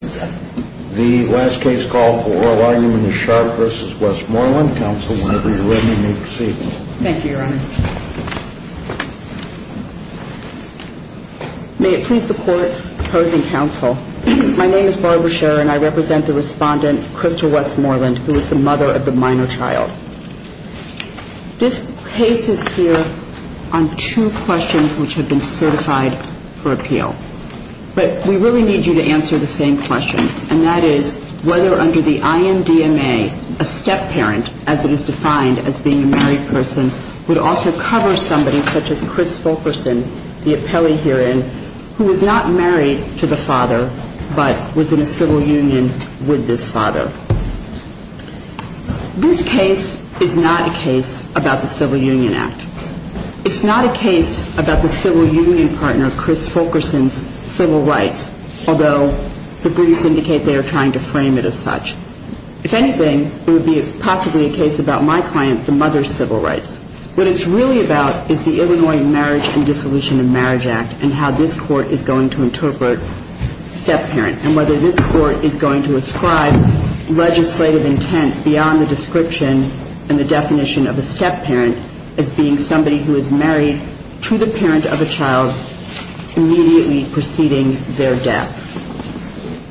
The last case call for oral argument is Sharpe v. Westmoreland. Counsel, whenever you're ready, may proceed. Thank you, Your Honor. May it please the Court, opposing counsel, my name is Barbara Sharpe and I represent the respondent, Crystal Westmoreland, who is the mother of the minor child. This case is here on two questions which have been certified for appeal. But we really need you to answer the same question, and that is whether under the IMDMA a step-parent, as it is defined as being a married person, would also cover somebody such as Chris Folkerson, the appellee herein, who is not married to the father but was in a civil union with this father. This case is not a case about the Civil Union Act. It's not a case about the civil union partner, Chris Folkerson's, civil rights, although the briefs indicate they are trying to frame it as such. If anything, it would be possibly a case about my client, the mother's civil rights. What it's really about is the Illinois Marriage and Dissolution of Marriage Act and how this Court is going to interpret step-parent and whether this Court is going to ascribe legislative intent beyond the description and the definition of a step-parent as being somebody who is married to the parent of a child immediately preceding their death.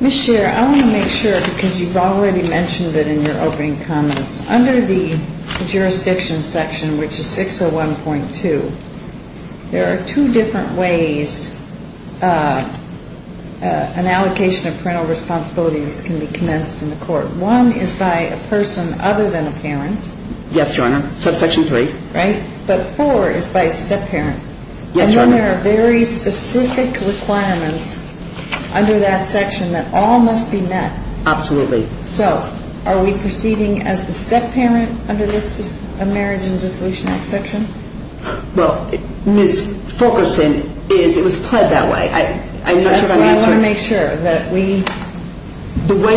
Ms. Scheer, I want to make sure, because you've already mentioned it in your opening comments, under the jurisdiction section, which is 601.2, there are two different ways an allocation of parental responsibilities can be commenced in the Court. One is by a person other than a parent. Yes, Your Honor. Subsection 3. Right? But 4 is by a step-parent. Yes, Your Honor. And then there are very specific requirements under that section that all must be met. Absolutely. So are we proceeding as the step-parent under this Marriage and Dissolution Act section? Well, Ms. Fulkerson, it was pled that way. I'm not sure if I'm answering. That's why I want to make sure that we go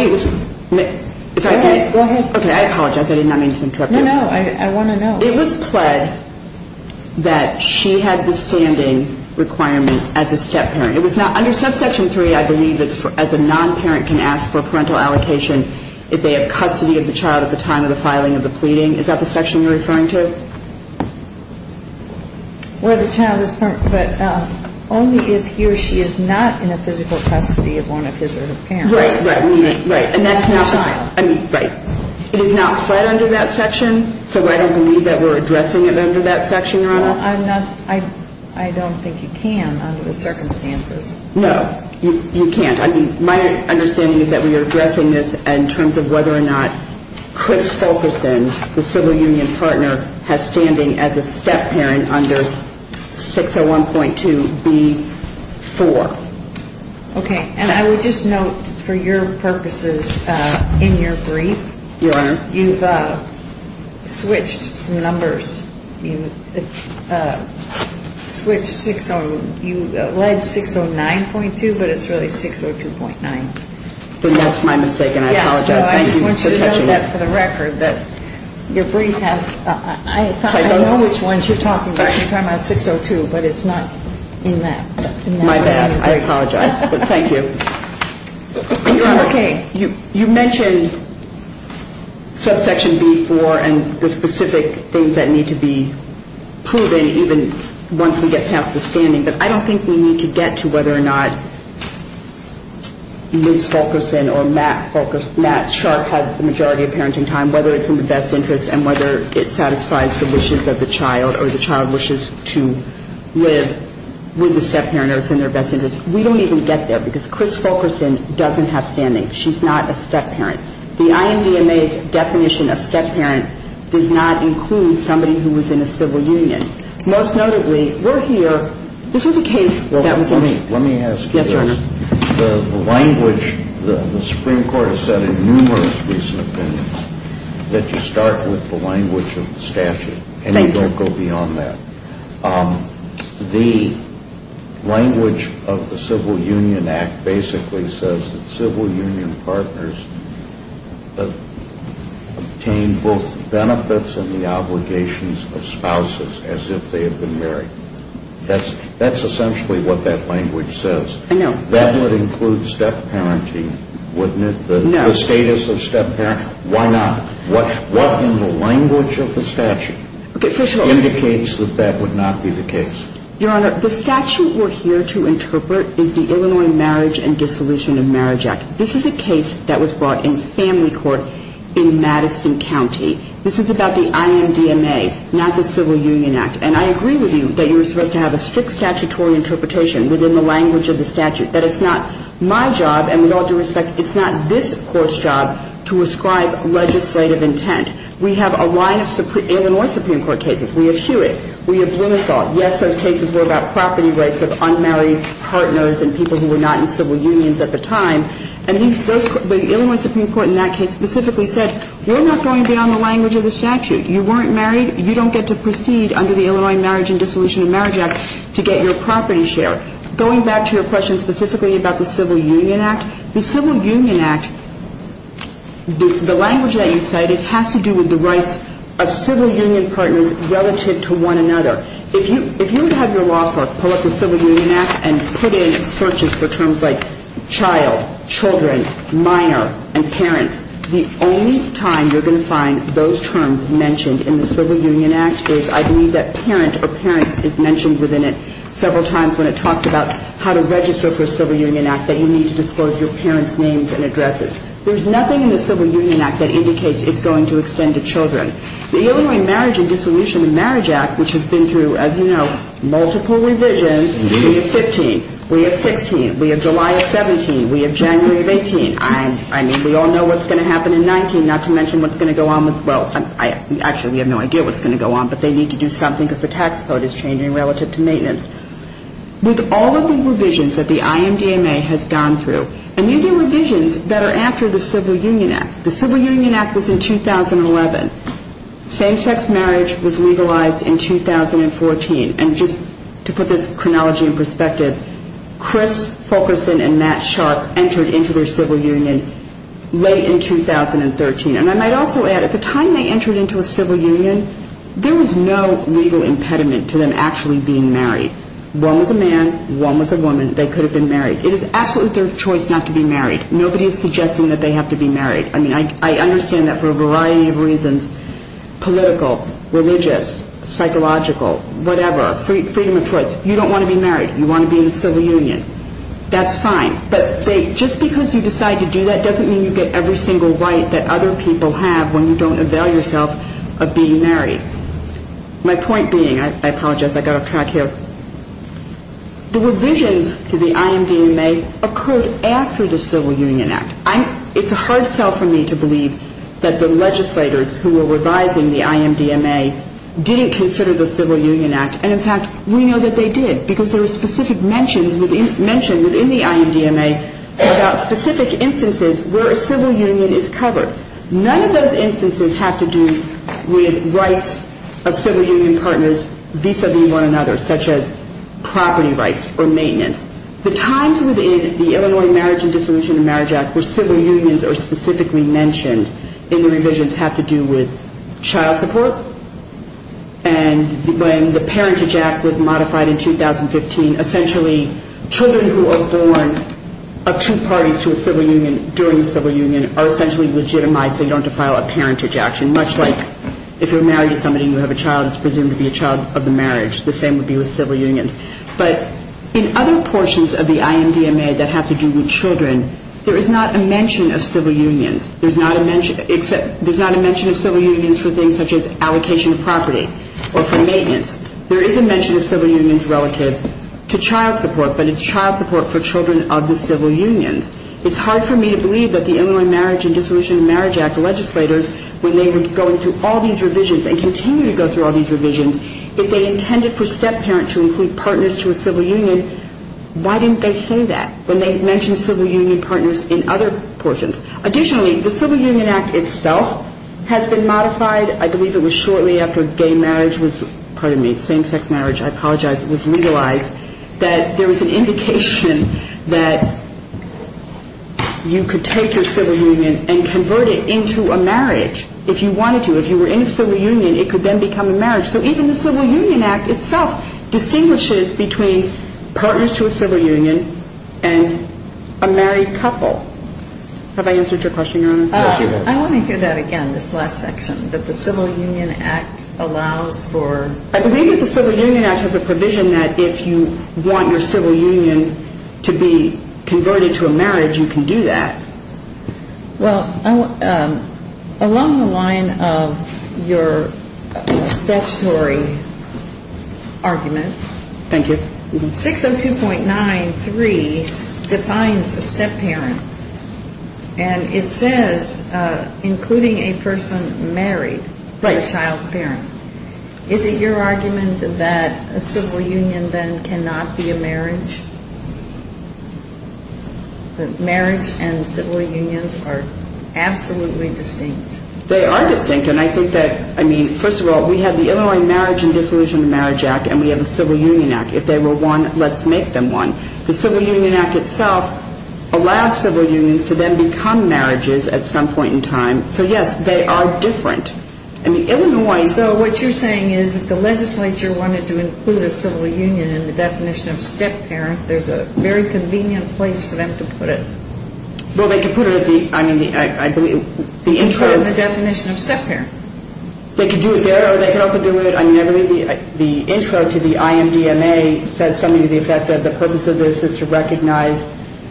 ahead. Okay, I apologize. I did not mean to interrupt you. No, no. I want to know. It was pled that she had the standing requirement as a step-parent. Under subsection 3, I believe it's as a non-parent can ask for parental allocation if they have custody of the child at the time of the filing of the pleading. Is that the section you're referring to? Where the child is permitted only if he or she is not in a physical custody of one of his or her parents. Right, right. Right. And that's not. I mean, right. It is not pled under that section, so I don't believe that we're addressing it under that section, Your Honor. Well, I'm not. I don't think you can under the circumstances. No, you can't. My understanding is that we are addressing this in terms of whether or not Chris Fulkerson, the civil union partner, has standing as a step-parent under 601.2B4. Okay, and I would just note for your purposes in your brief. Your Honor. You've switched some numbers. You led 609.2, but it's really 602.9. That's my mistake, and I apologize. Thank you for catching it. I just want you to note that for the record that your brief has. I know which ones you're talking about. You're talking about 602, but it's not in that. My bad. I apologize, but thank you. Your Honor. Okay. You mentioned subsection B4 and the specific things that need to be proven even once we get past the standing, but I don't think we need to get to whether or not Liz Fulkerson or Matt Sharp has the majority of parenting time, whether it's in the best interest and whether it satisfies the wishes of the child or the child wishes to live with the step-parent or it's in their best interest. We don't even get there because Chris Fulkerson doesn't have standing. She's not a step-parent. The INDMA's definition of step-parent does not include somebody who is in a civil union. Most notably, we're here. This was a case that was. Let me ask you this. Yes, Your Honor. The language, the Supreme Court has said in numerous recent opinions that you start with the language of the statute. Thank you. And you don't go beyond that. The language of the Civil Union Act basically says that civil union partners obtain both benefits and the obligations of spouses as if they have been married. That's essentially what that language says. I know. That would include step-parenting, wouldn't it? No. The status of step-parenting. Why not? What in the language of the statute indicates that that would not be the case? Your Honor, the statute we're here to interpret is the Illinois Marriage and Dissolution of Marriage Act. This is a case that was brought in family court in Madison County. This is about the INDMA, not the Civil Union Act. And I agree with you that you're supposed to have a strict statutory interpretation within the language of the statute, that it's not my job, and with all due respect, it's not this Court's job to ascribe legislative intent. We have a line of Illinois Supreme Court cases. We have Hewitt. We have Blumenthal. Yes, those cases were about property rights of unmarried partners and people who were not in civil unions at the time. And the Illinois Supreme Court in that case specifically said we're not going beyond the language of the statute. You weren't married. You don't get to proceed under the Illinois Marriage and Dissolution of Marriage Act to get your property share. Going back to your question specifically about the Civil Union Act, the Civil Union Act, the language that you cited, has to do with the rights of civil union partners relative to one another. If you were to have your law firm pull up the Civil Union Act and put in searches for terms like child, children, minor, and parents, the only time you're going to find those terms mentioned in the Civil Union Act is, I believe, that parent or parents is mentioned within it several times when it talks about how to register for a Civil Union Act, that you need to disclose your parents' names and addresses. There's nothing in the Civil Union Act that indicates it's going to extend to children. The Illinois Marriage and Dissolution of Marriage Act, which has been through, as you know, multiple revisions, we have 15, we have 16, we have July of 17, we have January of 18. I mean, we all know what's going to happen in 19, not to mention what's going to go on with, well, I actually have no idea what's going to go on, but they need to do something because the tax code is changing relative to maintenance. With all of the revisions that the IMDMA has gone through, and these are revisions that are after the Civil Union Act. The Civil Union Act was in 2011. Same-sex marriage was legalized in 2014. And just to put this chronology in perspective, Chris Fulkerson and Matt Sharp entered into their civil union late in 2013. And I might also add, at the time they entered into a civil union, there was no legal impediment to them actually being married. One was a man, one was a woman. They could have been married. It is absolutely their choice not to be married. Nobody is suggesting that they have to be married. I mean, I understand that for a variety of reasons, political, religious, psychological, whatever, freedom of choice. You don't want to be married. You want to be in the civil union. That's fine. But just because you decide to do that doesn't mean you get every single right that other people have when you don't avail yourself of being married. My point being, I apologize, I got off track here, the revisions to the IMDMA occurred after the Civil Union Act. It's a hard sell for me to believe that the legislators who were revising the IMDMA didn't consider the Civil Union Act. And, in fact, we know that they did because there were specific mentions within the IMDMA about specific instances where a civil union is covered. None of those instances have to do with rights of civil union partners vis-a-vis one another, such as property rights or maintenance. The times within the Illinois Marriage and Dissolution of Marriage Act where civil unions are specifically mentioned in the revisions have to do with child support and when the Parentage Act was modified in 2015. Essentially, children who are born of two parties to a civil union during the civil union are essentially legitimized so you don't defile a parentage action, much like if you're married to somebody and you have a child, it's presumed to be a child of the marriage. The same would be with civil unions. But in other portions of the IMDMA that have to do with children, there is not a mention of civil unions. There's not a mention of civil unions for things such as allocation of property or for maintenance. There is a mention of civil unions relative to child support, but it's child support for children of the civil unions. It's hard for me to believe that the Illinois Marriage and Dissolution of Marriage Act legislators, when they were going through all these revisions and continue to go through all these revisions, if they intended for step-parents to include partners to a civil union, why didn't they say that when they mentioned civil union partners in other portions? Additionally, the Civil Union Act itself has been modified. I believe it was shortly after gay marriage was, pardon me, same-sex marriage, I apologize, it was legalized that there was an indication that you could take your civil union and convert it into a marriage if you wanted to. If you were in a civil union, it could then become a marriage. So even the Civil Union Act itself distinguishes between partners to a civil union and a married couple. Have I answered your question, Your Honor? I want to hear that again, this last section, that the Civil Union Act allows for – I believe that the Civil Union Act has a provision that if you want your civil union to be converted to a marriage, you can do that. Well, along the line of your statutory argument – Thank you. 602.93 defines a step-parent, and it says including a person married to the child's parent. Is it your argument that a civil union then cannot be a marriage? Marriage and civil unions are absolutely distinct. They are distinct, and I think that, I mean, first of all, we have the Illinois Marriage and Disillusionment Marriage Act, and we have the Civil Union Act. If they were one, let's make them one. The Civil Union Act itself allows civil unions to then become marriages at some point in time. So, yes, they are different. So what you're saying is if the legislature wanted to include a civil union in the definition of step-parent, there's a very convenient place for them to put it? Well, they could put it at the – I mean, I believe – In the definition of step-parent? They could do it there, or they could also do it – I mean, I believe the intro to the IMDMA says something to the effect that the purpose of this is to recognize,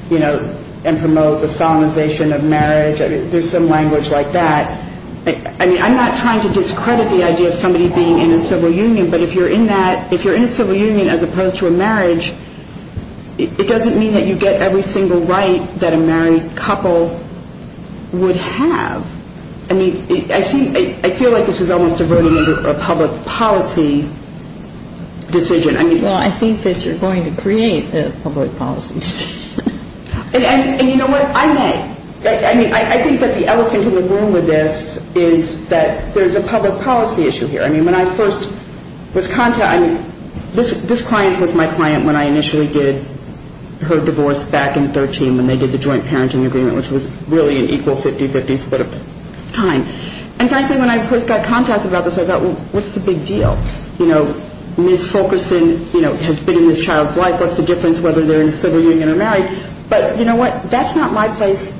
you know, and promote the solemnization of marriage. There's some language like that. I mean, I'm not trying to discredit the idea of somebody being in a civil union, but if you're in that – if you're in a civil union as opposed to a marriage, it doesn't mean that you get every single right that a married couple would have. I mean, I feel like this is almost a voting under a public policy decision. Well, I think that you're going to create a public policy decision. And you know what? I may. I mean, I think that the elephant in the room with this is that there's a public policy issue here. I mean, when I first was contacted – I mean, this client was my client when I initially did her divorce back in 2013, when they did the joint parenting agreement, which was really an equal 50-50 split of time. And frankly, when I first got contacted about this, I thought, well, what's the big deal? You know, Ms. Fulkerson, you know, has been in this child's life. What's the difference whether they're in a civil union or married? But you know what? That's not my place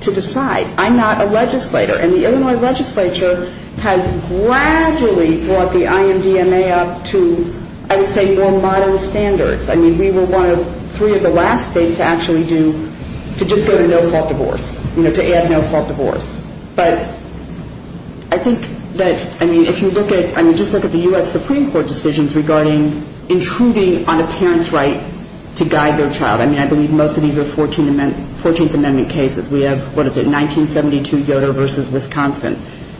to decide. I'm not a legislator. And the Illinois legislature has gradually brought the IMDMA up to, I would say, more modern standards. I mean, we were one of three of the last states to actually do – to just go to no-fault divorce, you know, to add no-fault divorce. But I think that – I mean, if you look at – I mean, just look at the U.S. Supreme Court decisions regarding intruding on a parent's right to guide their child. I mean, I believe most of these are 14th Amendment cases. We have – what is it – 1972, Yoder v. Wisconsin.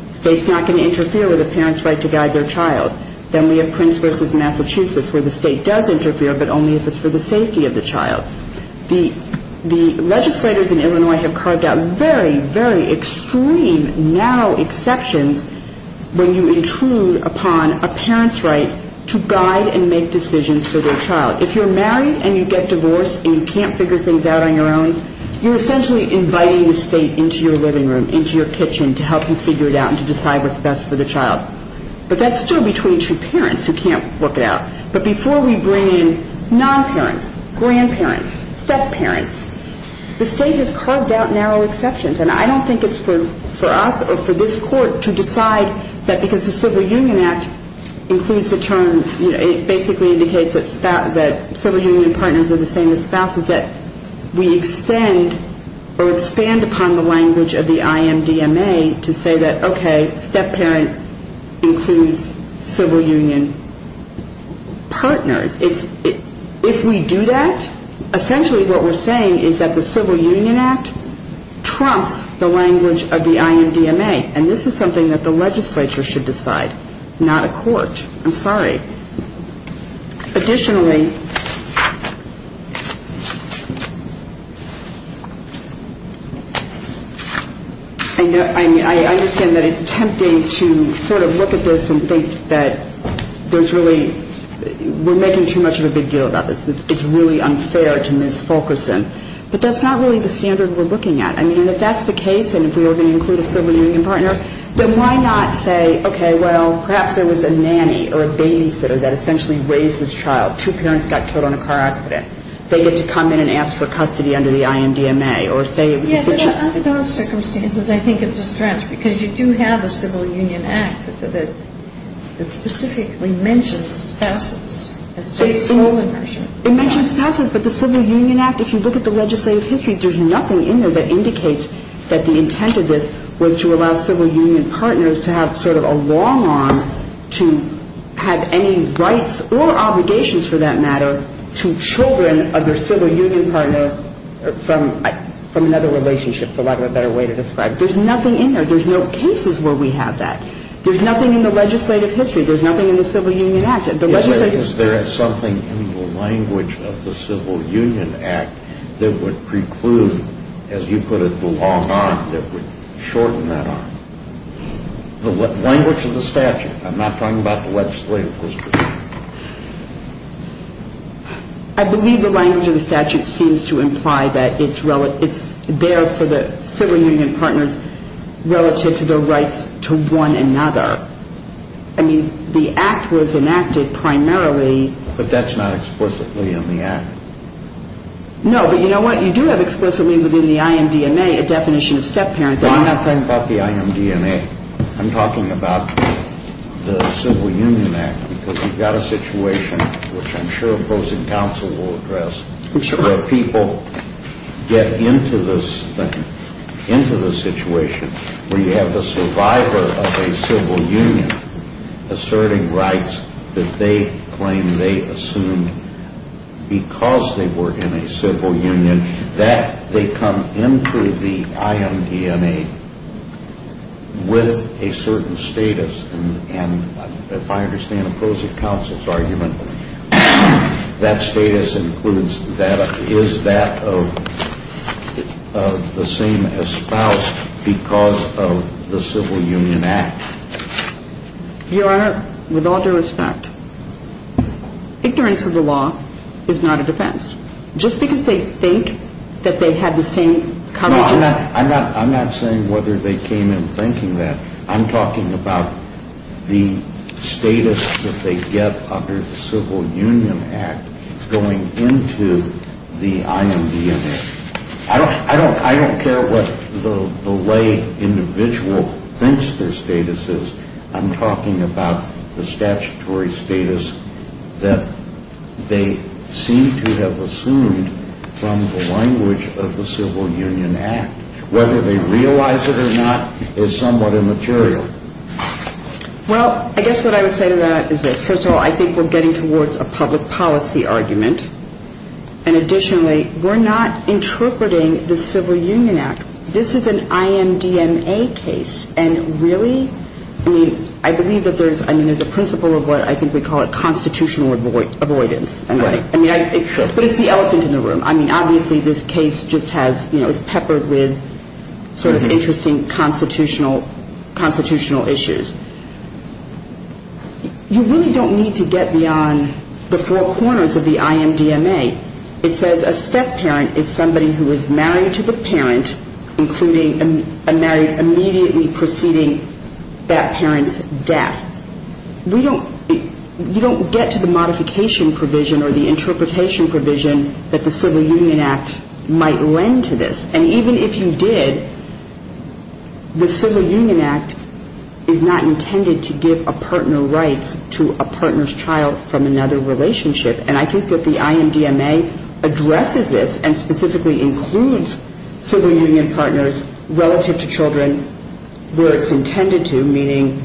The state's not going to interfere with a parent's right to guide their child. Then we have Prince v. Massachusetts, where the state does interfere, but only if it's for the safety of the child. The legislators in Illinois have carved out very, very extreme, narrow exceptions when you intrude upon a parent's right to guide and make decisions for their child. If you're married and you get divorced and you can't figure things out on your own, you're essentially inviting the state into your living room, into your kitchen, to help you figure it out and to decide what's best for the child. But that's still between two parents who can't work it out. But before we bring in non-parents, grandparents, step-parents, the state has carved out narrow exceptions. And I don't think it's for us or for this Court to decide that because the Civil Union Act includes the term – it basically indicates that civil union partners are the same as spouses, that we extend or expand upon the language of the IMDMA to say that, okay, step-parent includes civil union partners. If we do that, essentially what we're saying is that the Civil Union Act trumps the language of the IMDMA. And this is something that the legislature should decide, not a court. I'm sorry. Additionally, I understand that it's tempting to sort of look at this and think that there's really – we're making too much of a big deal about this. It's really unfair to mis-focus them. But that's not really the standard we're looking at. I mean, if that's the case and if we are going to include a civil union partner, then why not say, okay, well, perhaps there was a nanny or a babysitter that essentially raised this child. Two parents got killed in a car accident. They get to come in and ask for custody under the IMDMA or say it was a situation – Yeah, but under those circumstances, I think it's a stretch because you do have a Civil Union Act that specifically mentions spouses as a sole inversion. It mentions spouses, but the Civil Union Act, if you look at the legislative history, there's nothing in there that indicates that the intent of this was to allow civil union partners to have sort of a long arm to have any rights or obligations, for that matter, to children of their civil union partner from another relationship, for lack of a better way to describe it. There's nothing in there. There's no cases where we have that. There's nothing in the legislative history. There's nothing in the Civil Union Act. Is there something in the language of the Civil Union Act that would preclude, as you put it, the long arm that would shorten that arm? The language of the statute. I'm not talking about the legislative history. I believe the language of the statute seems to imply that it's there for the civil union partners relative to their rights to one another. I mean, the act was enacted primarily. But that's not explicitly in the act. No, but you know what? You do have explicitly within the IMDNA a definition of step-parent. I'm not saying about the IMDNA. I'm talking about the Civil Union Act because you've got a situation, which I'm sure opposing counsel will address, where people get into the situation where you have the survivor of a civil union asserting rights that they claim they assumed because they were in a civil union, that they come into the IMDNA with a certain status. And if I understand opposing counsel's argument, that status includes that. Is that the same espoused because of the Civil Union Act? Your Honor, with all due respect, ignorance of the law is not a defense. Just because they think that they have the same coverage as you. No, I'm not saying whether they came in thinking that. I'm talking about the status that they get under the Civil Union Act going into the IMDNA. I don't care what the lay individual thinks their status is. I'm talking about the statutory status that they seem to have assumed from the language of the Civil Union Act. Whether they realize it or not is somewhat immaterial. Well, I guess what I would say to that is this. First of all, I think we're getting towards a public policy argument. And additionally, we're not interpreting the Civil Union Act. This is an IMDNA case. And really, I believe that there's a principle of what I think we call a constitutional avoidance. But it's the elephant in the room. I mean, obviously this case just has, you know, it's peppered with sort of interesting constitutional issues. You really don't need to get beyond the four corners of the IMDNA. It says a step-parent is somebody who is married to the parent, including a married immediately preceding that parent's death. You don't get to the modification provision or the interpretation provision that the Civil Union Act might lend to this. And even if you did, the Civil Union Act is not intended to give a partner rights to a partner's child from another relationship. And I think that the IMDNA addresses this and specifically includes Civil Union partners relative to children where it's intended to, meaning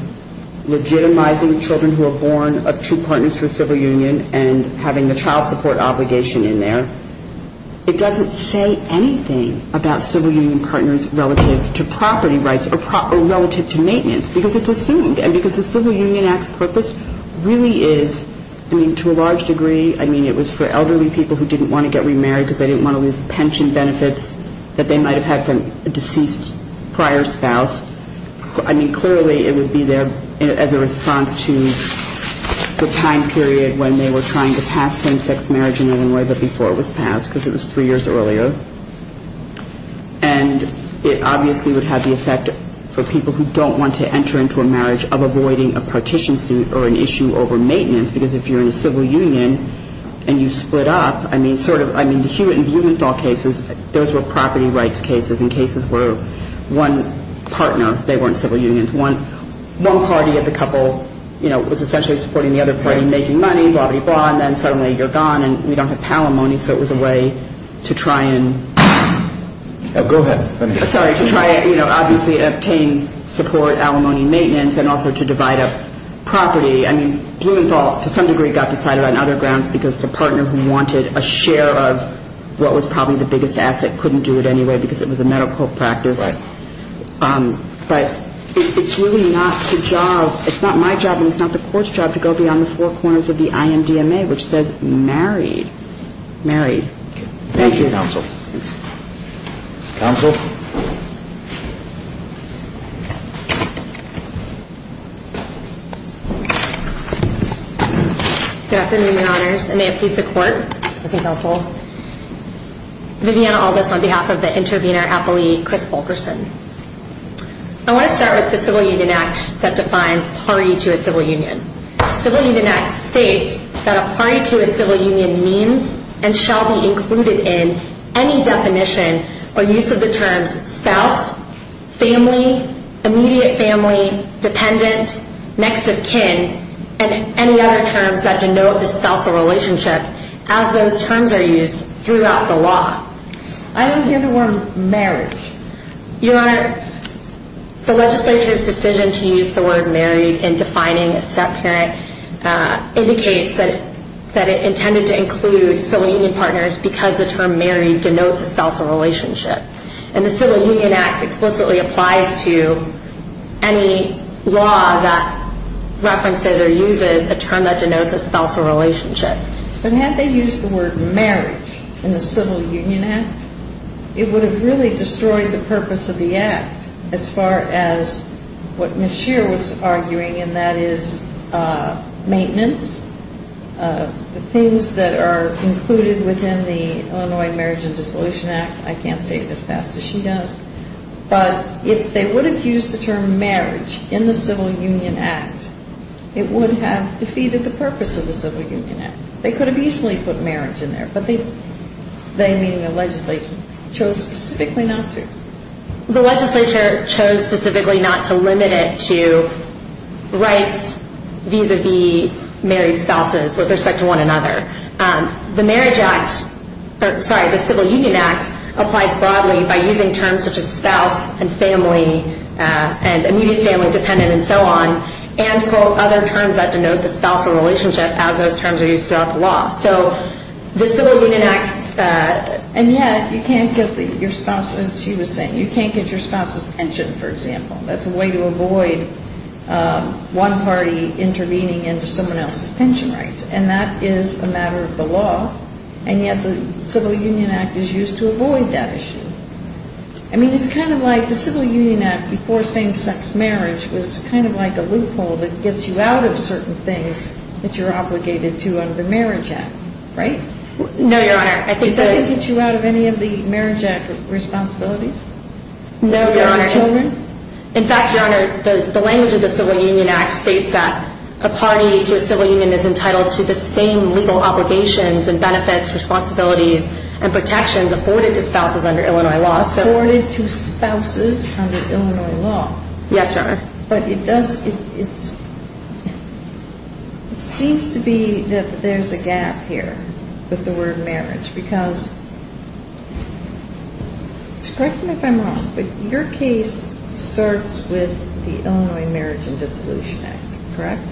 legitimizing children who are born of two partners for Civil Union and having the child support obligation in there. It doesn't say anything about Civil Union partners relative to property rights or relative to maintenance because it's assumed. And because the Civil Union Act's purpose really is, I mean, to a large degree, I mean, it was for elderly people who didn't want to get remarried because they didn't want to lose pension benefits that they might have had from a deceased prior spouse. I mean, clearly it would be there as a response to the time period when they were trying to pass same-sex marriage in Illinois but before it was passed because it was three years earlier. And it obviously would have the effect for people who don't want to enter into a marriage of avoiding a partition suit or an issue over maintenance because if you're in a Civil Union and you split up, I mean, sort of, I mean, the Hewitt and Blumenthal cases, those were property rights cases and cases where one partner, they weren't Civil Unions, one party of the couple, you know, was essentially supporting the other party making money, blah, blah, blah, and then suddenly you're gone and we don't have palimony so it was a way to try and... Go ahead. Sorry, to try and, you know, obviously obtain support, alimony, maintenance and also to divide up property. I mean, Blumenthal to some degree got decided on other grounds because the partner who wanted a share of what was probably the biggest asset couldn't do it anyway because it was a medical practice. Right. But it's really not the job, it's not my job and it's not the court's job to go beyond the four corners of the IMDMA which says married. Married. Thank you. Thank you, counsel. Counsel? An amputee of the court. Thank you, counsel. Viviana August on behalf of the intervener at the league, Chris Fulkerson. I want to start with the Civil Union Act that defines party to a civil union. Civil Union Act states that a party to a civil union means and shall be included in any definition or use of the terms spouse, family, immediate family, dependent, next of kin, and any other terms that denote the spousal relationship as those terms are used throughout the law. I don't hear the word married. Your Honor, the legislature's decision to use the word married in defining a step-parent indicates that it intended to include civil union partners because the term married denotes a spousal relationship. And the Civil Union Act explicitly applies to any law that references or uses a term that denotes a spousal relationship. But had they used the word marriage in the Civil Union Act, it would have really destroyed the purpose of the act as far as what Ms. Scheer was arguing, and that is maintenance. The things that are included within the Illinois Marriage and Dissolution Act, I can't say it as fast as she does, but if they would have used the term marriage in the Civil Union Act, it would have defeated the purpose of the Civil Union Act. They could have easily put marriage in there, but they, meaning the legislature, chose specifically not to. The legislature chose specifically not to limit it to rights vis-à-vis married spouses with respect to one another. The Civil Union Act applies broadly by using terms such as spouse and family and immediate family dependent and so on, and for other terms that denote the spousal relationship as those terms are used throughout the law. And yet you can't get your spouse, as she was saying, you can't get your spouse's pension, for example. That's a way to avoid one party intervening into someone else's pension rights, and that is a matter of the law, and yet the Civil Union Act is used to avoid that issue. I mean, it's kind of like the Civil Union Act before same-sex marriage was kind of like a loophole that gets you out of certain things that you're obligated to under the Marriage Act, right? No, Your Honor. It doesn't get you out of any of the Marriage Act responsibilities? No, Your Honor. Children? In fact, Your Honor, the language of the Civil Union Act states that a party to a civil union is entitled to the same legal obligations and benefits, responsibilities, and protections afforded to spouses under Illinois law. Afforded to spouses under Illinois law. Yes, Your Honor. But it does, it seems to be that there's a gap here with the word marriage because, correct me if I'm wrong, but your case starts with the Illinois Marriage and Dissolution Act, correct?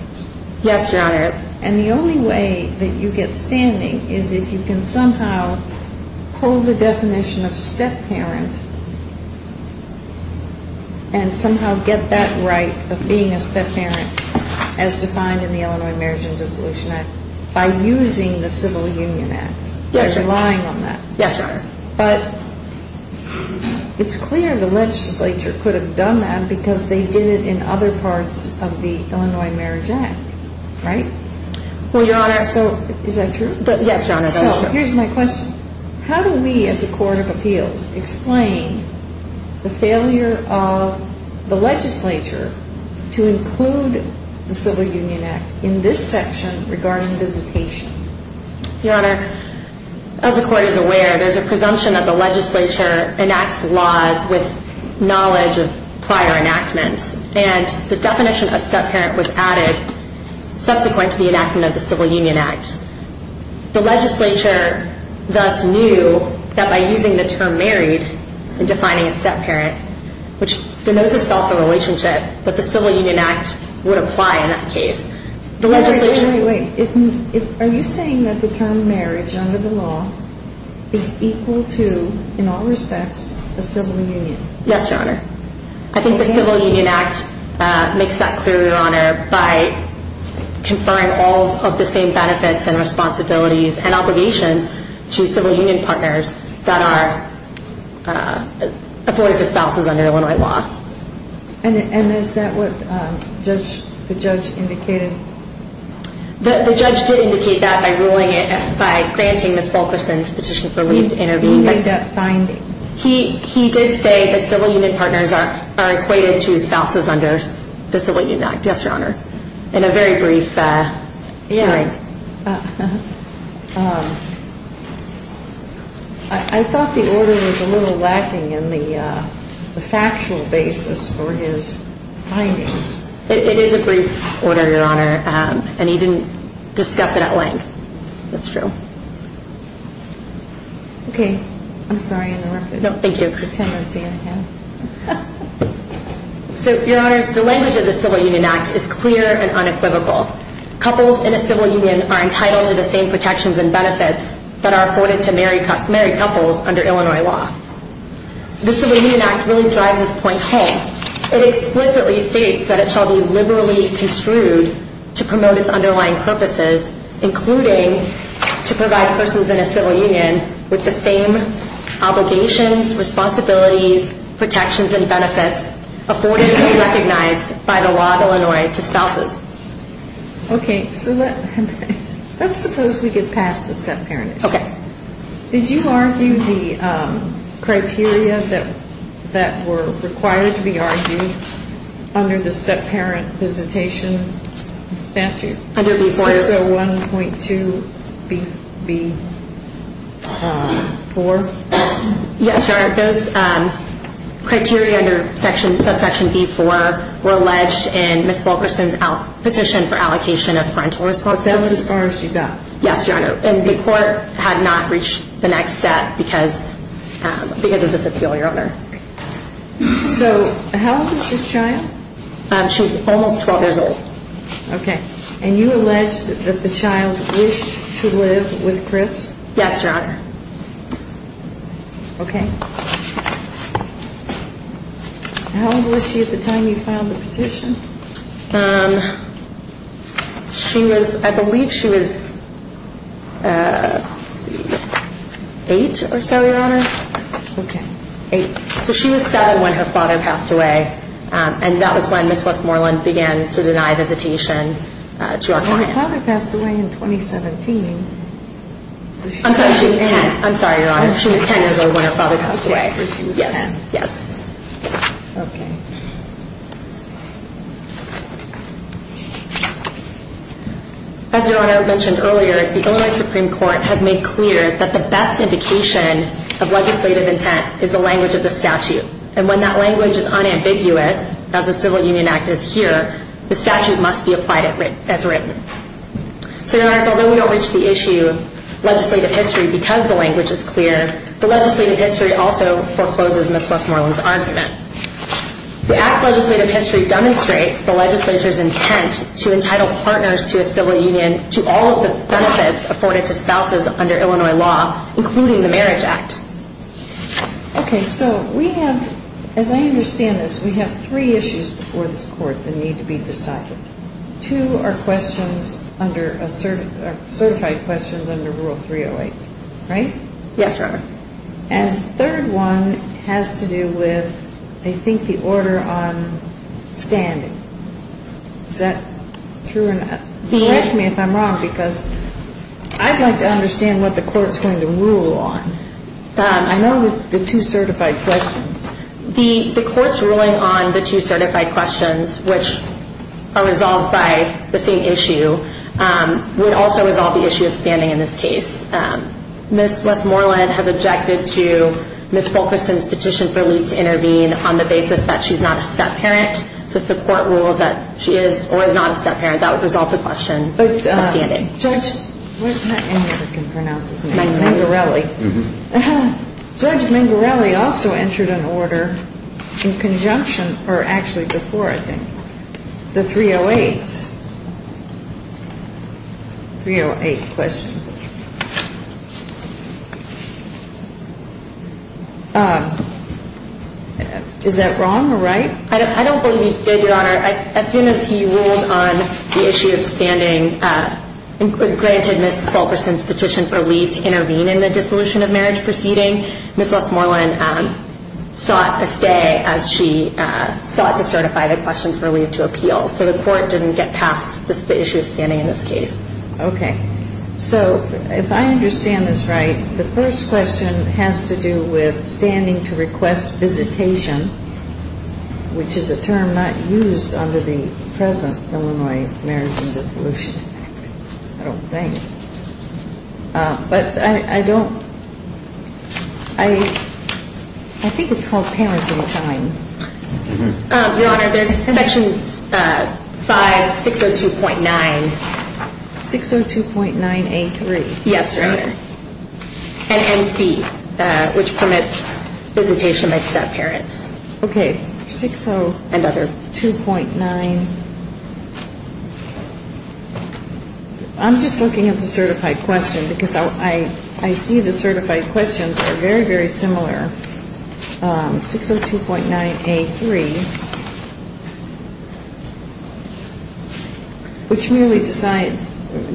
Yes, Your Honor. And the only way that you get standing is if you can somehow hold the definition of step-parent and somehow get that right of being a step-parent as defined in the Illinois Marriage and Dissolution Act by using the Civil Union Act. Yes, Your Honor. By relying on that. Yes, Your Honor. But it's clear the legislature could have done that because they did it in other parts of the Illinois Marriage Act, right? Well, Your Honor. So is that true? Yes, Your Honor, that's true. So here's my question. How do we as a court of appeals explain the failure of the legislature to include the Civil Union Act in this section regarding visitation? Your Honor, as the court is aware, there's a presumption that the legislature enacts laws with knowledge of prior enactments, and the definition of step-parent was added subsequent to the enactment of the Civil Union Act. The legislature thus knew that by using the term married and defining a step-parent, which denotes a spousal relationship, that the Civil Union Act would apply in that case. Wait, wait, wait. Are you saying that the term marriage under the law is equal to, in all respects, a civil union? Yes, Your Honor. I think the Civil Union Act makes that clear, Your Honor, by conferring all of the same benefits and responsibilities and obligations to civil union partners that are afforded to spouses under Illinois law. And is that what the judge indicated? The judge did indicate that by granting Ms. Fulkerson's petition for leave to intervene. He made that finding? He did say that civil union partners are equated to spouses under the Civil Union Act, yes, Your Honor, in a very brief hearing. I thought the order was a little lacking in the factual basis for his findings. It is a brief order, Your Honor, and he didn't discuss it at length. That's true. Okay. I'm sorry, I interrupted. No, thank you. It's a tendency, I guess. So, Your Honors, the language of the Civil Union Act is clear and unequivocal. Couples in a civil union are entitled to the same protections and benefits that are afforded to married couples under Illinois law. The Civil Union Act really drives this point home. It explicitly states that it shall be liberally construed to promote its underlying purposes, including to provide persons in a civil union with the same obligations, responsibilities, protections, and benefits afforded to be recognized by the law of Illinois to spouses. Okay. So let's suppose we could pass the step-parent issue. Okay. Did you argue the criteria that were required to be argued under the step-parent visitation statute? Under B4. 601.2B4? Yes, Your Honor. Those criteria under subsection B4 were alleged in Ms. Wilkerson's petition for allocation of parental responsibility. That's as far as you got. Yes, Your Honor. And the court had not reached the next step because of this appeal, Your Honor. So how old is this child? She's almost 12 years old. Okay. And you alleged that the child wished to live with Chris? Yes, Your Honor. Okay. How old was she at the time you filed the petition? She was, I believe she was eight or so, Your Honor. Okay. Eight. So she was seven when her father passed away, and that was when Ms. Westmoreland began to deny visitation to our client. And her father passed away in 2017. I'm sorry, she was 10. I'm sorry, Your Honor. She was 10 years old when her father passed away. Okay, so she was 10. Yes. Okay. As Your Honor mentioned earlier, the Illinois Supreme Court has made clear that the best indication of legislative intent is the language of the statute. And when that language is unambiguous, as the Civil Union Act is here, the statute must be applied as written. So, Your Honors, although we don't reach the issue of legislative history because the language is clear, the legislative history also forecloses Ms. Westmoreland's argument. The act's legislative history demonstrates the legislature's intent to entitle partners to a civil union to all of the benefits afforded to spouses under Illinois law, including the Marriage Act. Okay, so we have, as I understand this, we have three issues before this Court that need to be decided. Two are certified questions under Rule 308, right? Yes, Your Honor. And the third one has to do with, I think, the order on standing. Is that true or not? Correct me if I'm wrong, because I'd like to understand what the Court's going to rule on. I know the two certified questions. The Court's ruling on the two certified questions, which are resolved by the same issue, would also resolve the issue of standing in this case. Ms. Westmoreland has objected to Ms. Fulkerson's petition for Lee to intervene on the basis that she's not a step-parent. So if the Court rules that she is or is not a step-parent, that would resolve the question of standing. But Judge Mangarelli also entered an order in conjunction or actually before, I think, the 308s. 308 questions. Is that wrong or right? I don't believe he did, Your Honor. As soon as he ruled on the issue of standing, granted Ms. Fulkerson's petition for Lee to intervene in the dissolution of marriage proceeding, Ms. Westmoreland sought a stay as she sought to certify the questions for Lee to appeal. So the Court didn't get past the issue of standing in this case. Okay. So if I understand this right, the first question has to do with standing to request visitation, which is a term not used under the present Illinois Marriage and Dissolution Act, I don't think. But I don't – I think it's called parenting time. Your Honor, there's section 5602.9. 602.9A3. Yes, Your Honor. And NC, which permits visitation by step-parents. Okay. 602.9. I'm just looking at the certified question because I see the certified questions are very, very similar. 602.9A3, which merely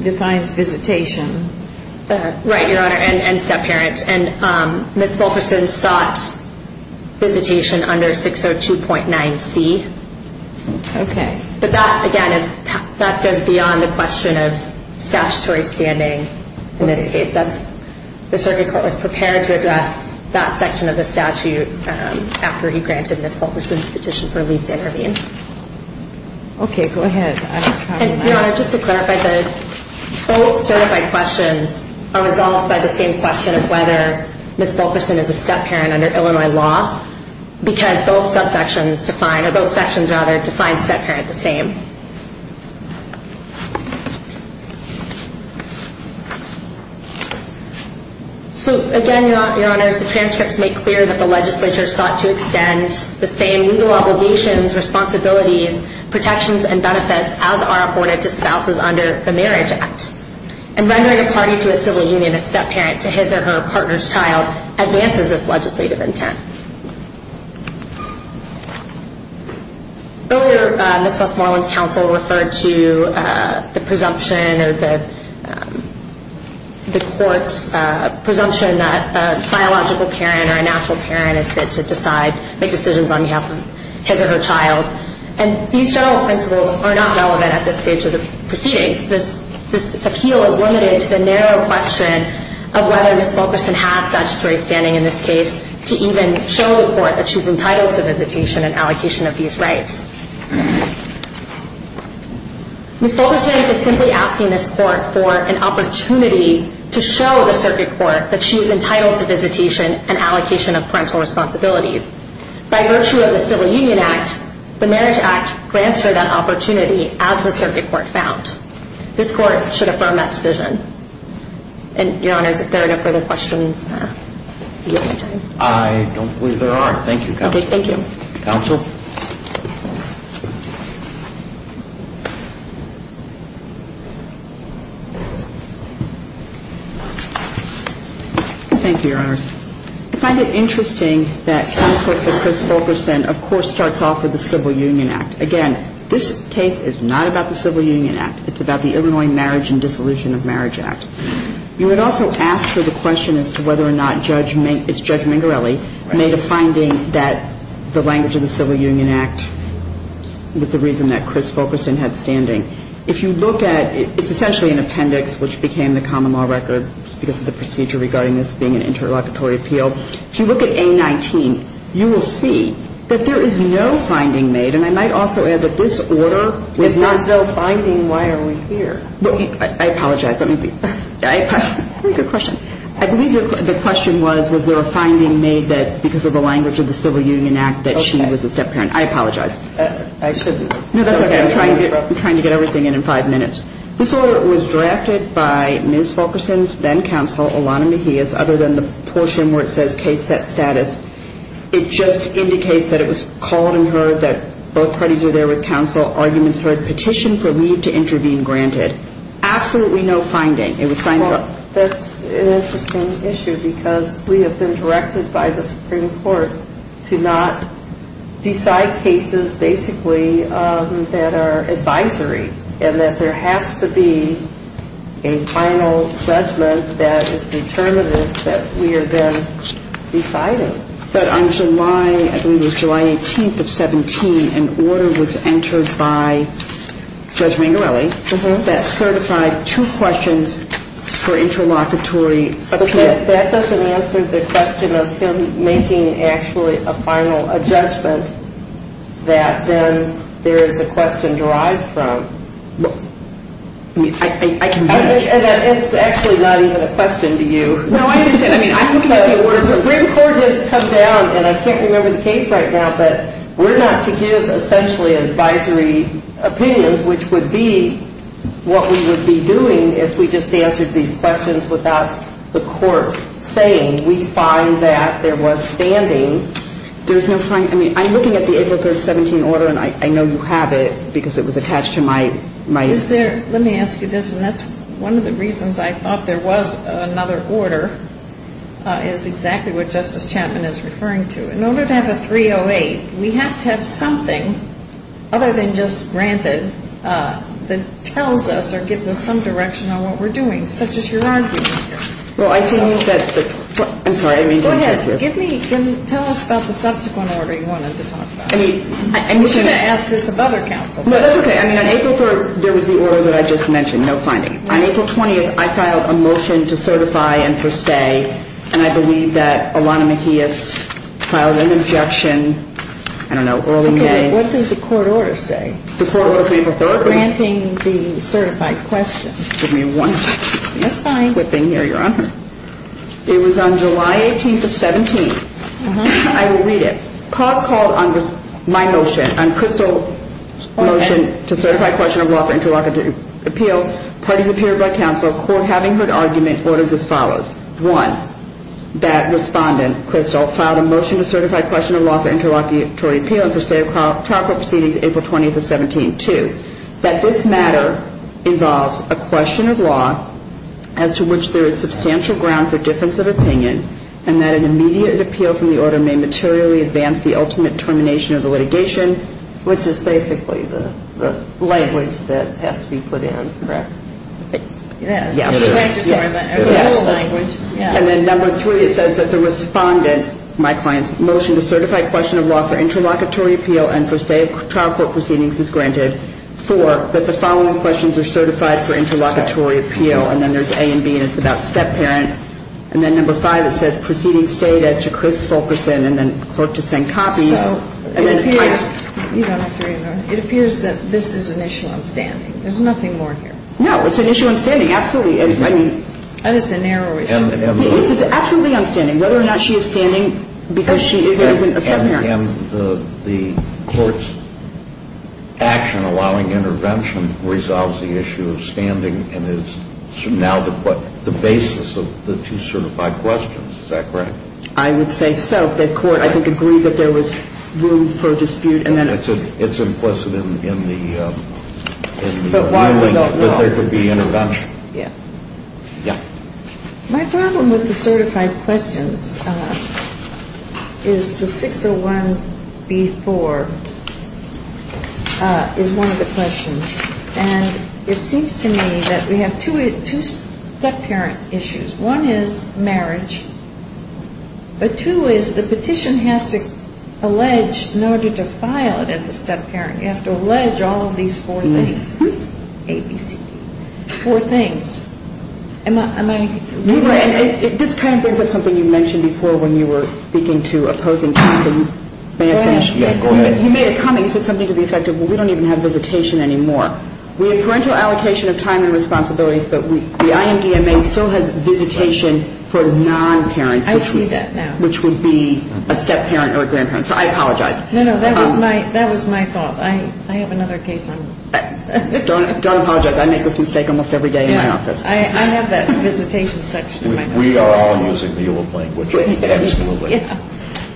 defines visitation. Right, Your Honor, and step-parents. And Ms. Fulkerson sought visitation under 602.9C. Okay. But that, again, that goes beyond the question of statutory standing in this case. The circuit court was prepared to address that section of the statute after he granted Ms. Fulkerson's petition for Lee to intervene. Okay, go ahead. And, Your Honor, just to clarify, both certified questions are resolved by the same question of whether Ms. Fulkerson is a step-parent under Illinois law because both subsections define, or both sections, rather, define step-parent the same. So, again, Your Honors, the transcripts make clear that the legislature sought to extend the same legal obligations, responsibilities, protections, and benefits as are afforded to spouses under the Marriage Act. And rendering a party to a civil union a step-parent to his or her partner's child advances this legislative intent. Earlier, Ms. Westmoreland's counsel referred to the presumption or the court's presumption that a biological parent or a natural parent is fit to decide, make decisions on behalf of his or her child. And these general principles are not relevant at this stage of the proceedings. This appeal is limited to the narrow question of whether Ms. Fulkerson has statutory standing in this case to even show the court that she's entitled to visitation and allocation of these rights. Ms. Fulkerson is simply asking this court for an opportunity to show the circuit court that she is entitled to visitation and allocation of parental responsibilities. By virtue of the Civil Union Act, the Marriage Act grants her that opportunity as the circuit court found. This court should affirm that decision. And, Your Honors, if there are no further questions. I don't believe there are. Thank you, Counsel. Thank you. Counsel? Thank you, Your Honors. I find it interesting that counsel for Chris Fulkerson, of course, starts off with the Civil Union Act. Again, this case is not about the Civil Union Act. It's about the Illinois Marriage and Dissolution of Marriage Act. You had also asked her the question as to whether or not Judge Mingorelli made a finding that the language of the Civil Union Act was the reason that Chris Fulkerson had standing. If you look at, it's essentially an appendix which became the common law record because of the procedure regarding this being an interlocutory appeal. If you look at A19, you will see that there is no finding made. And I might also add that this order was not. If there's no finding, why are we here? I apologize. Let me be. I apologize. Very good question. I believe the question was, was there a finding made that because of the language of the Civil Union Act that she was a step-parent. I apologize. I shouldn't. No, that's okay. I'm trying to get everything in in five minutes. This order was drafted by Ms. Fulkerson's then counsel, Alana Mejia, other than the portion where it says case set status. It just indicates that it was called and heard, that both parties are there with counsel, arguments heard, petition for leave to intervene granted. Absolutely no finding. It was signed off. Well, that's an interesting issue because we have been directed by the Supreme Court to not decide cases basically that are advisory, and that there has to be a final judgment that is determinative that we are then deciding. But on July, I believe it was July 18th of 17, an order was entered by Judge Mangarelli that certified two questions for interlocutory appeal. But that doesn't answer the question of him making actually a final judgment that then there is a question derived from. I can make that. It's actually not even a question to you. No, I didn't say that. The Supreme Court has come down, and I can't remember the case right now, but we're not to give essentially advisory opinions which would be what we would be doing if we just answered these questions without the court saying we find that there was standing. I'm looking at the April 3rd, 17 order, and I know you have it because it was attached to my. Let me ask you this, and that's one of the reasons I thought there was another order is exactly what Justice Chapman is referring to. In order to have a 308, we have to have something other than just granted that tells us or gives us some direction on what we're doing, such as your argument here. Well, I think that the – I'm sorry, I didn't mean to interrupt you. Go ahead. Tell us about the subsequent order you wanted to talk about. We're going to ask this of other counsel. No, that's okay. I mean, on April 3rd, there was the order that I just mentioned, no finding. On April 20th, I filed a motion to certify and for stay, and I believe that Ilana Mejia filed an objection, I don't know, early May. Okay. What does the court order say? Granting the certified question. Give me one second. That's fine. It was on July 18th of 17th. I will read it. Cause called on my motion, on Crystal's motion to certify question of law for interlocutory appeal. Parties appeared by counsel, court having heard argument, orders as follows. One, that respondent, Crystal, filed a motion to certify question of law for interlocutory appeal and for stay of trial proceedings April 20th of 17th. Two, that this matter involves a question of law as to which there is substantial ground for difference of opinion and that an immediate appeal from the order may materially advance the ultimate termination of the litigation. Which is basically the language that has to be put in, correct? Yes. The rule language. And then number three, it says that the respondent, my client's motion, to certify question of law for interlocutory appeal and for stay of trial proceedings is granted. Four, that the following questions are certified for interlocutory appeal. And then there's A and B, and it's about step-parent. And then number five, it says proceeding stated to Chris Fulkerson and then clerk to send copies. So it appears that this is an issue on standing. There's nothing more here. No. It's an issue on standing. Absolutely. That is the narrow issue. Absolutely on standing. Whether or not she is standing, because she isn't a step-parent. And the court's action allowing intervention resolves the issue of standing and is now the basis of the two certified questions. Is that correct? I would say so. The court, I think, agreed that there was room for dispute. It's implicit in the ruling that there could be intervention. Yeah. Yeah. My problem with the certified questions is the 601B4 is one of the questions. And it seems to me that we have two step-parent issues. One is marriage, but two is the petition has to allege in order to file it as a step-parent. You have to allege all of these four things, A, B, C, D, four things. This kind of brings up something you mentioned before when you were speaking to opposing cases. May I finish? Yeah, go ahead. You made a comment. You said something to the effect of, well, we don't even have visitation anymore. We have parental allocation of time and responsibilities, but the IMDMA still has visitation for non-parents. I see that now. Which would be a step-parent or a grandparent. So I apologize. No, no. That was my fault. I have another case on. Don't apologize. I make this mistake almost every day in my office. I have that visitation section in my office. We are all using the EULA plan, which I absolutely. Yeah.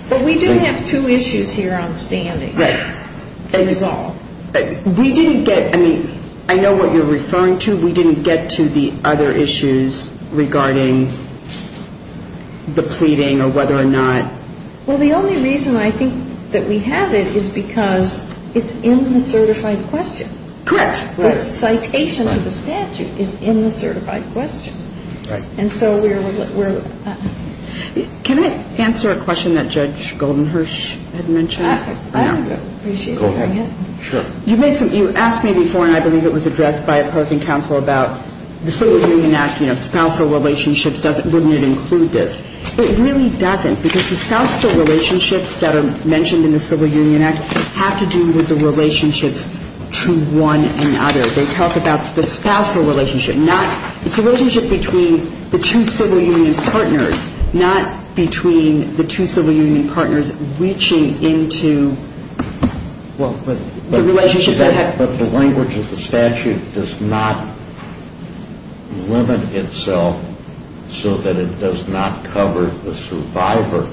But we do have two issues here on standing. Right. To resolve. We didn't get, I mean, I know what you're referring to. We didn't get to the other issues regarding the pleading or whether or not. Well, the only reason I think that we have it is because it's in the certified question. Correct. The citation to the statute is in the certified question. Right. And so we're. Can I answer a question that Judge Goldenhersch had mentioned? I would appreciate it. Go ahead. Sure. You asked me before, and I believe it was addressed by opposing counsel about the Civil Union Act, you know, spousal relationships, wouldn't it include this? It really doesn't because the spousal relationships that are mentioned in the Civil Union Act have to do with the relationships to one another. They talk about the spousal relationship. It's a relationship between the two Civil Union partners, not between the two Civil Union partners reaching into the relationships. But the language of the statute does not limit itself so that it does not cover the survivor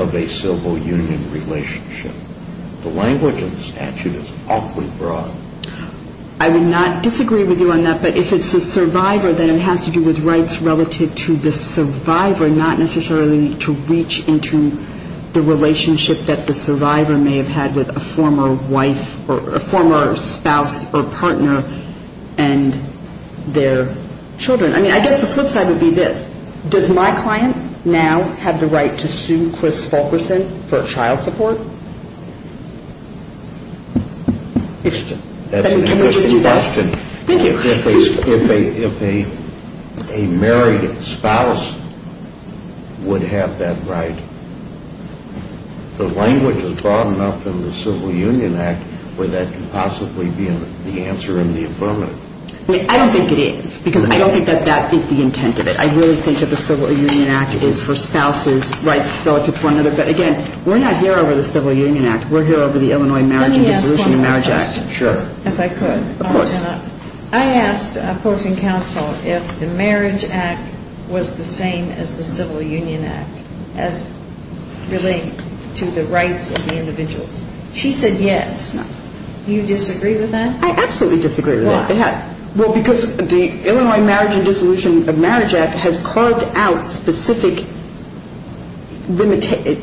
of a Civil Union relationship. The language of the statute is awfully broad. I would not disagree with you on that, but if it's a survivor, then it has to do with rights relative to the survivor, not necessarily to reach into the relationship that the survivor may have had with a former wife or a former spouse or partner and their children. I mean, I guess the flip side would be this. Does my client now have the right to sue Chris Fulkerson for child support? That's an interesting question. Thank you. If a married spouse would have that right, the language is broad enough in the Civil Union Act where that could possibly be the answer in the affirmative. I don't think it is because I don't think that that is the intent of it. I really think that the Civil Union Act is for spouses' rights relative to one another. But, again, we're not here over the Civil Union Act. We're here over the Illinois Marriage and Dissolution of Marriage Act. Let me ask one more question. Sure. If I could. Of course. I asked a person counsel if the Marriage Act was the same as the Civil Union Act as relating to the rights of the individuals. Do you disagree with that? I absolutely disagree with that. Why? Well, because the Illinois Marriage and Dissolution of Marriage Act has carved out specific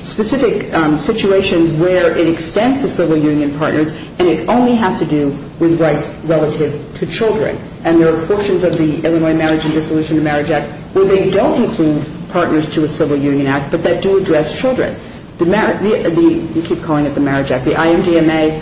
situations where it extends to Civil Union partners and it only has to do with rights relative to children. And there are portions of the Illinois Marriage and Dissolution of Marriage Act where they don't include partners to a Civil Union Act but that do address children. You keep calling it the Marriage Act. The IMDMA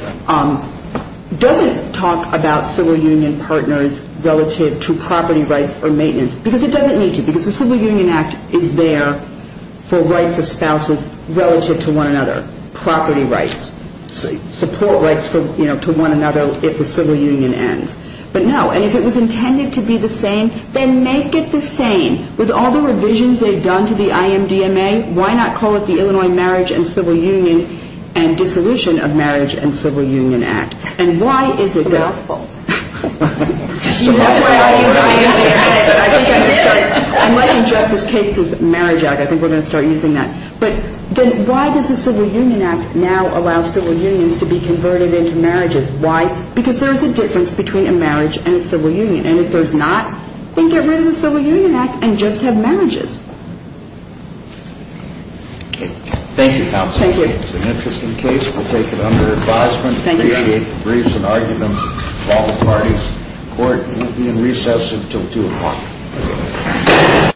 doesn't talk about Civil Union partners relative to property rights or maintenance because it doesn't need to because the Civil Union Act is there for rights of spouses relative to one another, property rights, support rights to one another if the Civil Union ends. But, no, if it was intended to be the same, then make it the same. With all the revisions they've done to the IMDMA, why not call it the Illinois Marriage and Civil Union and Dissolution of Marriage and Civil Union Act? And why is it that... It's a mouthful. That's what I was going to say. I might have just as cases Marriage Act. I think we're going to start using that. But why does the Civil Union Act now allow civil unions to be converted into marriages? Why? Because there is a difference between a marriage and a civil union. And if there's not, then get rid of the Civil Union Act and just have marriages. Okay. Thank you, Counsel. Thank you. It's an interesting case. We'll take it under advisement. Thank you. Briefs and arguments, all parties. Court will be in recess until 2 o'clock.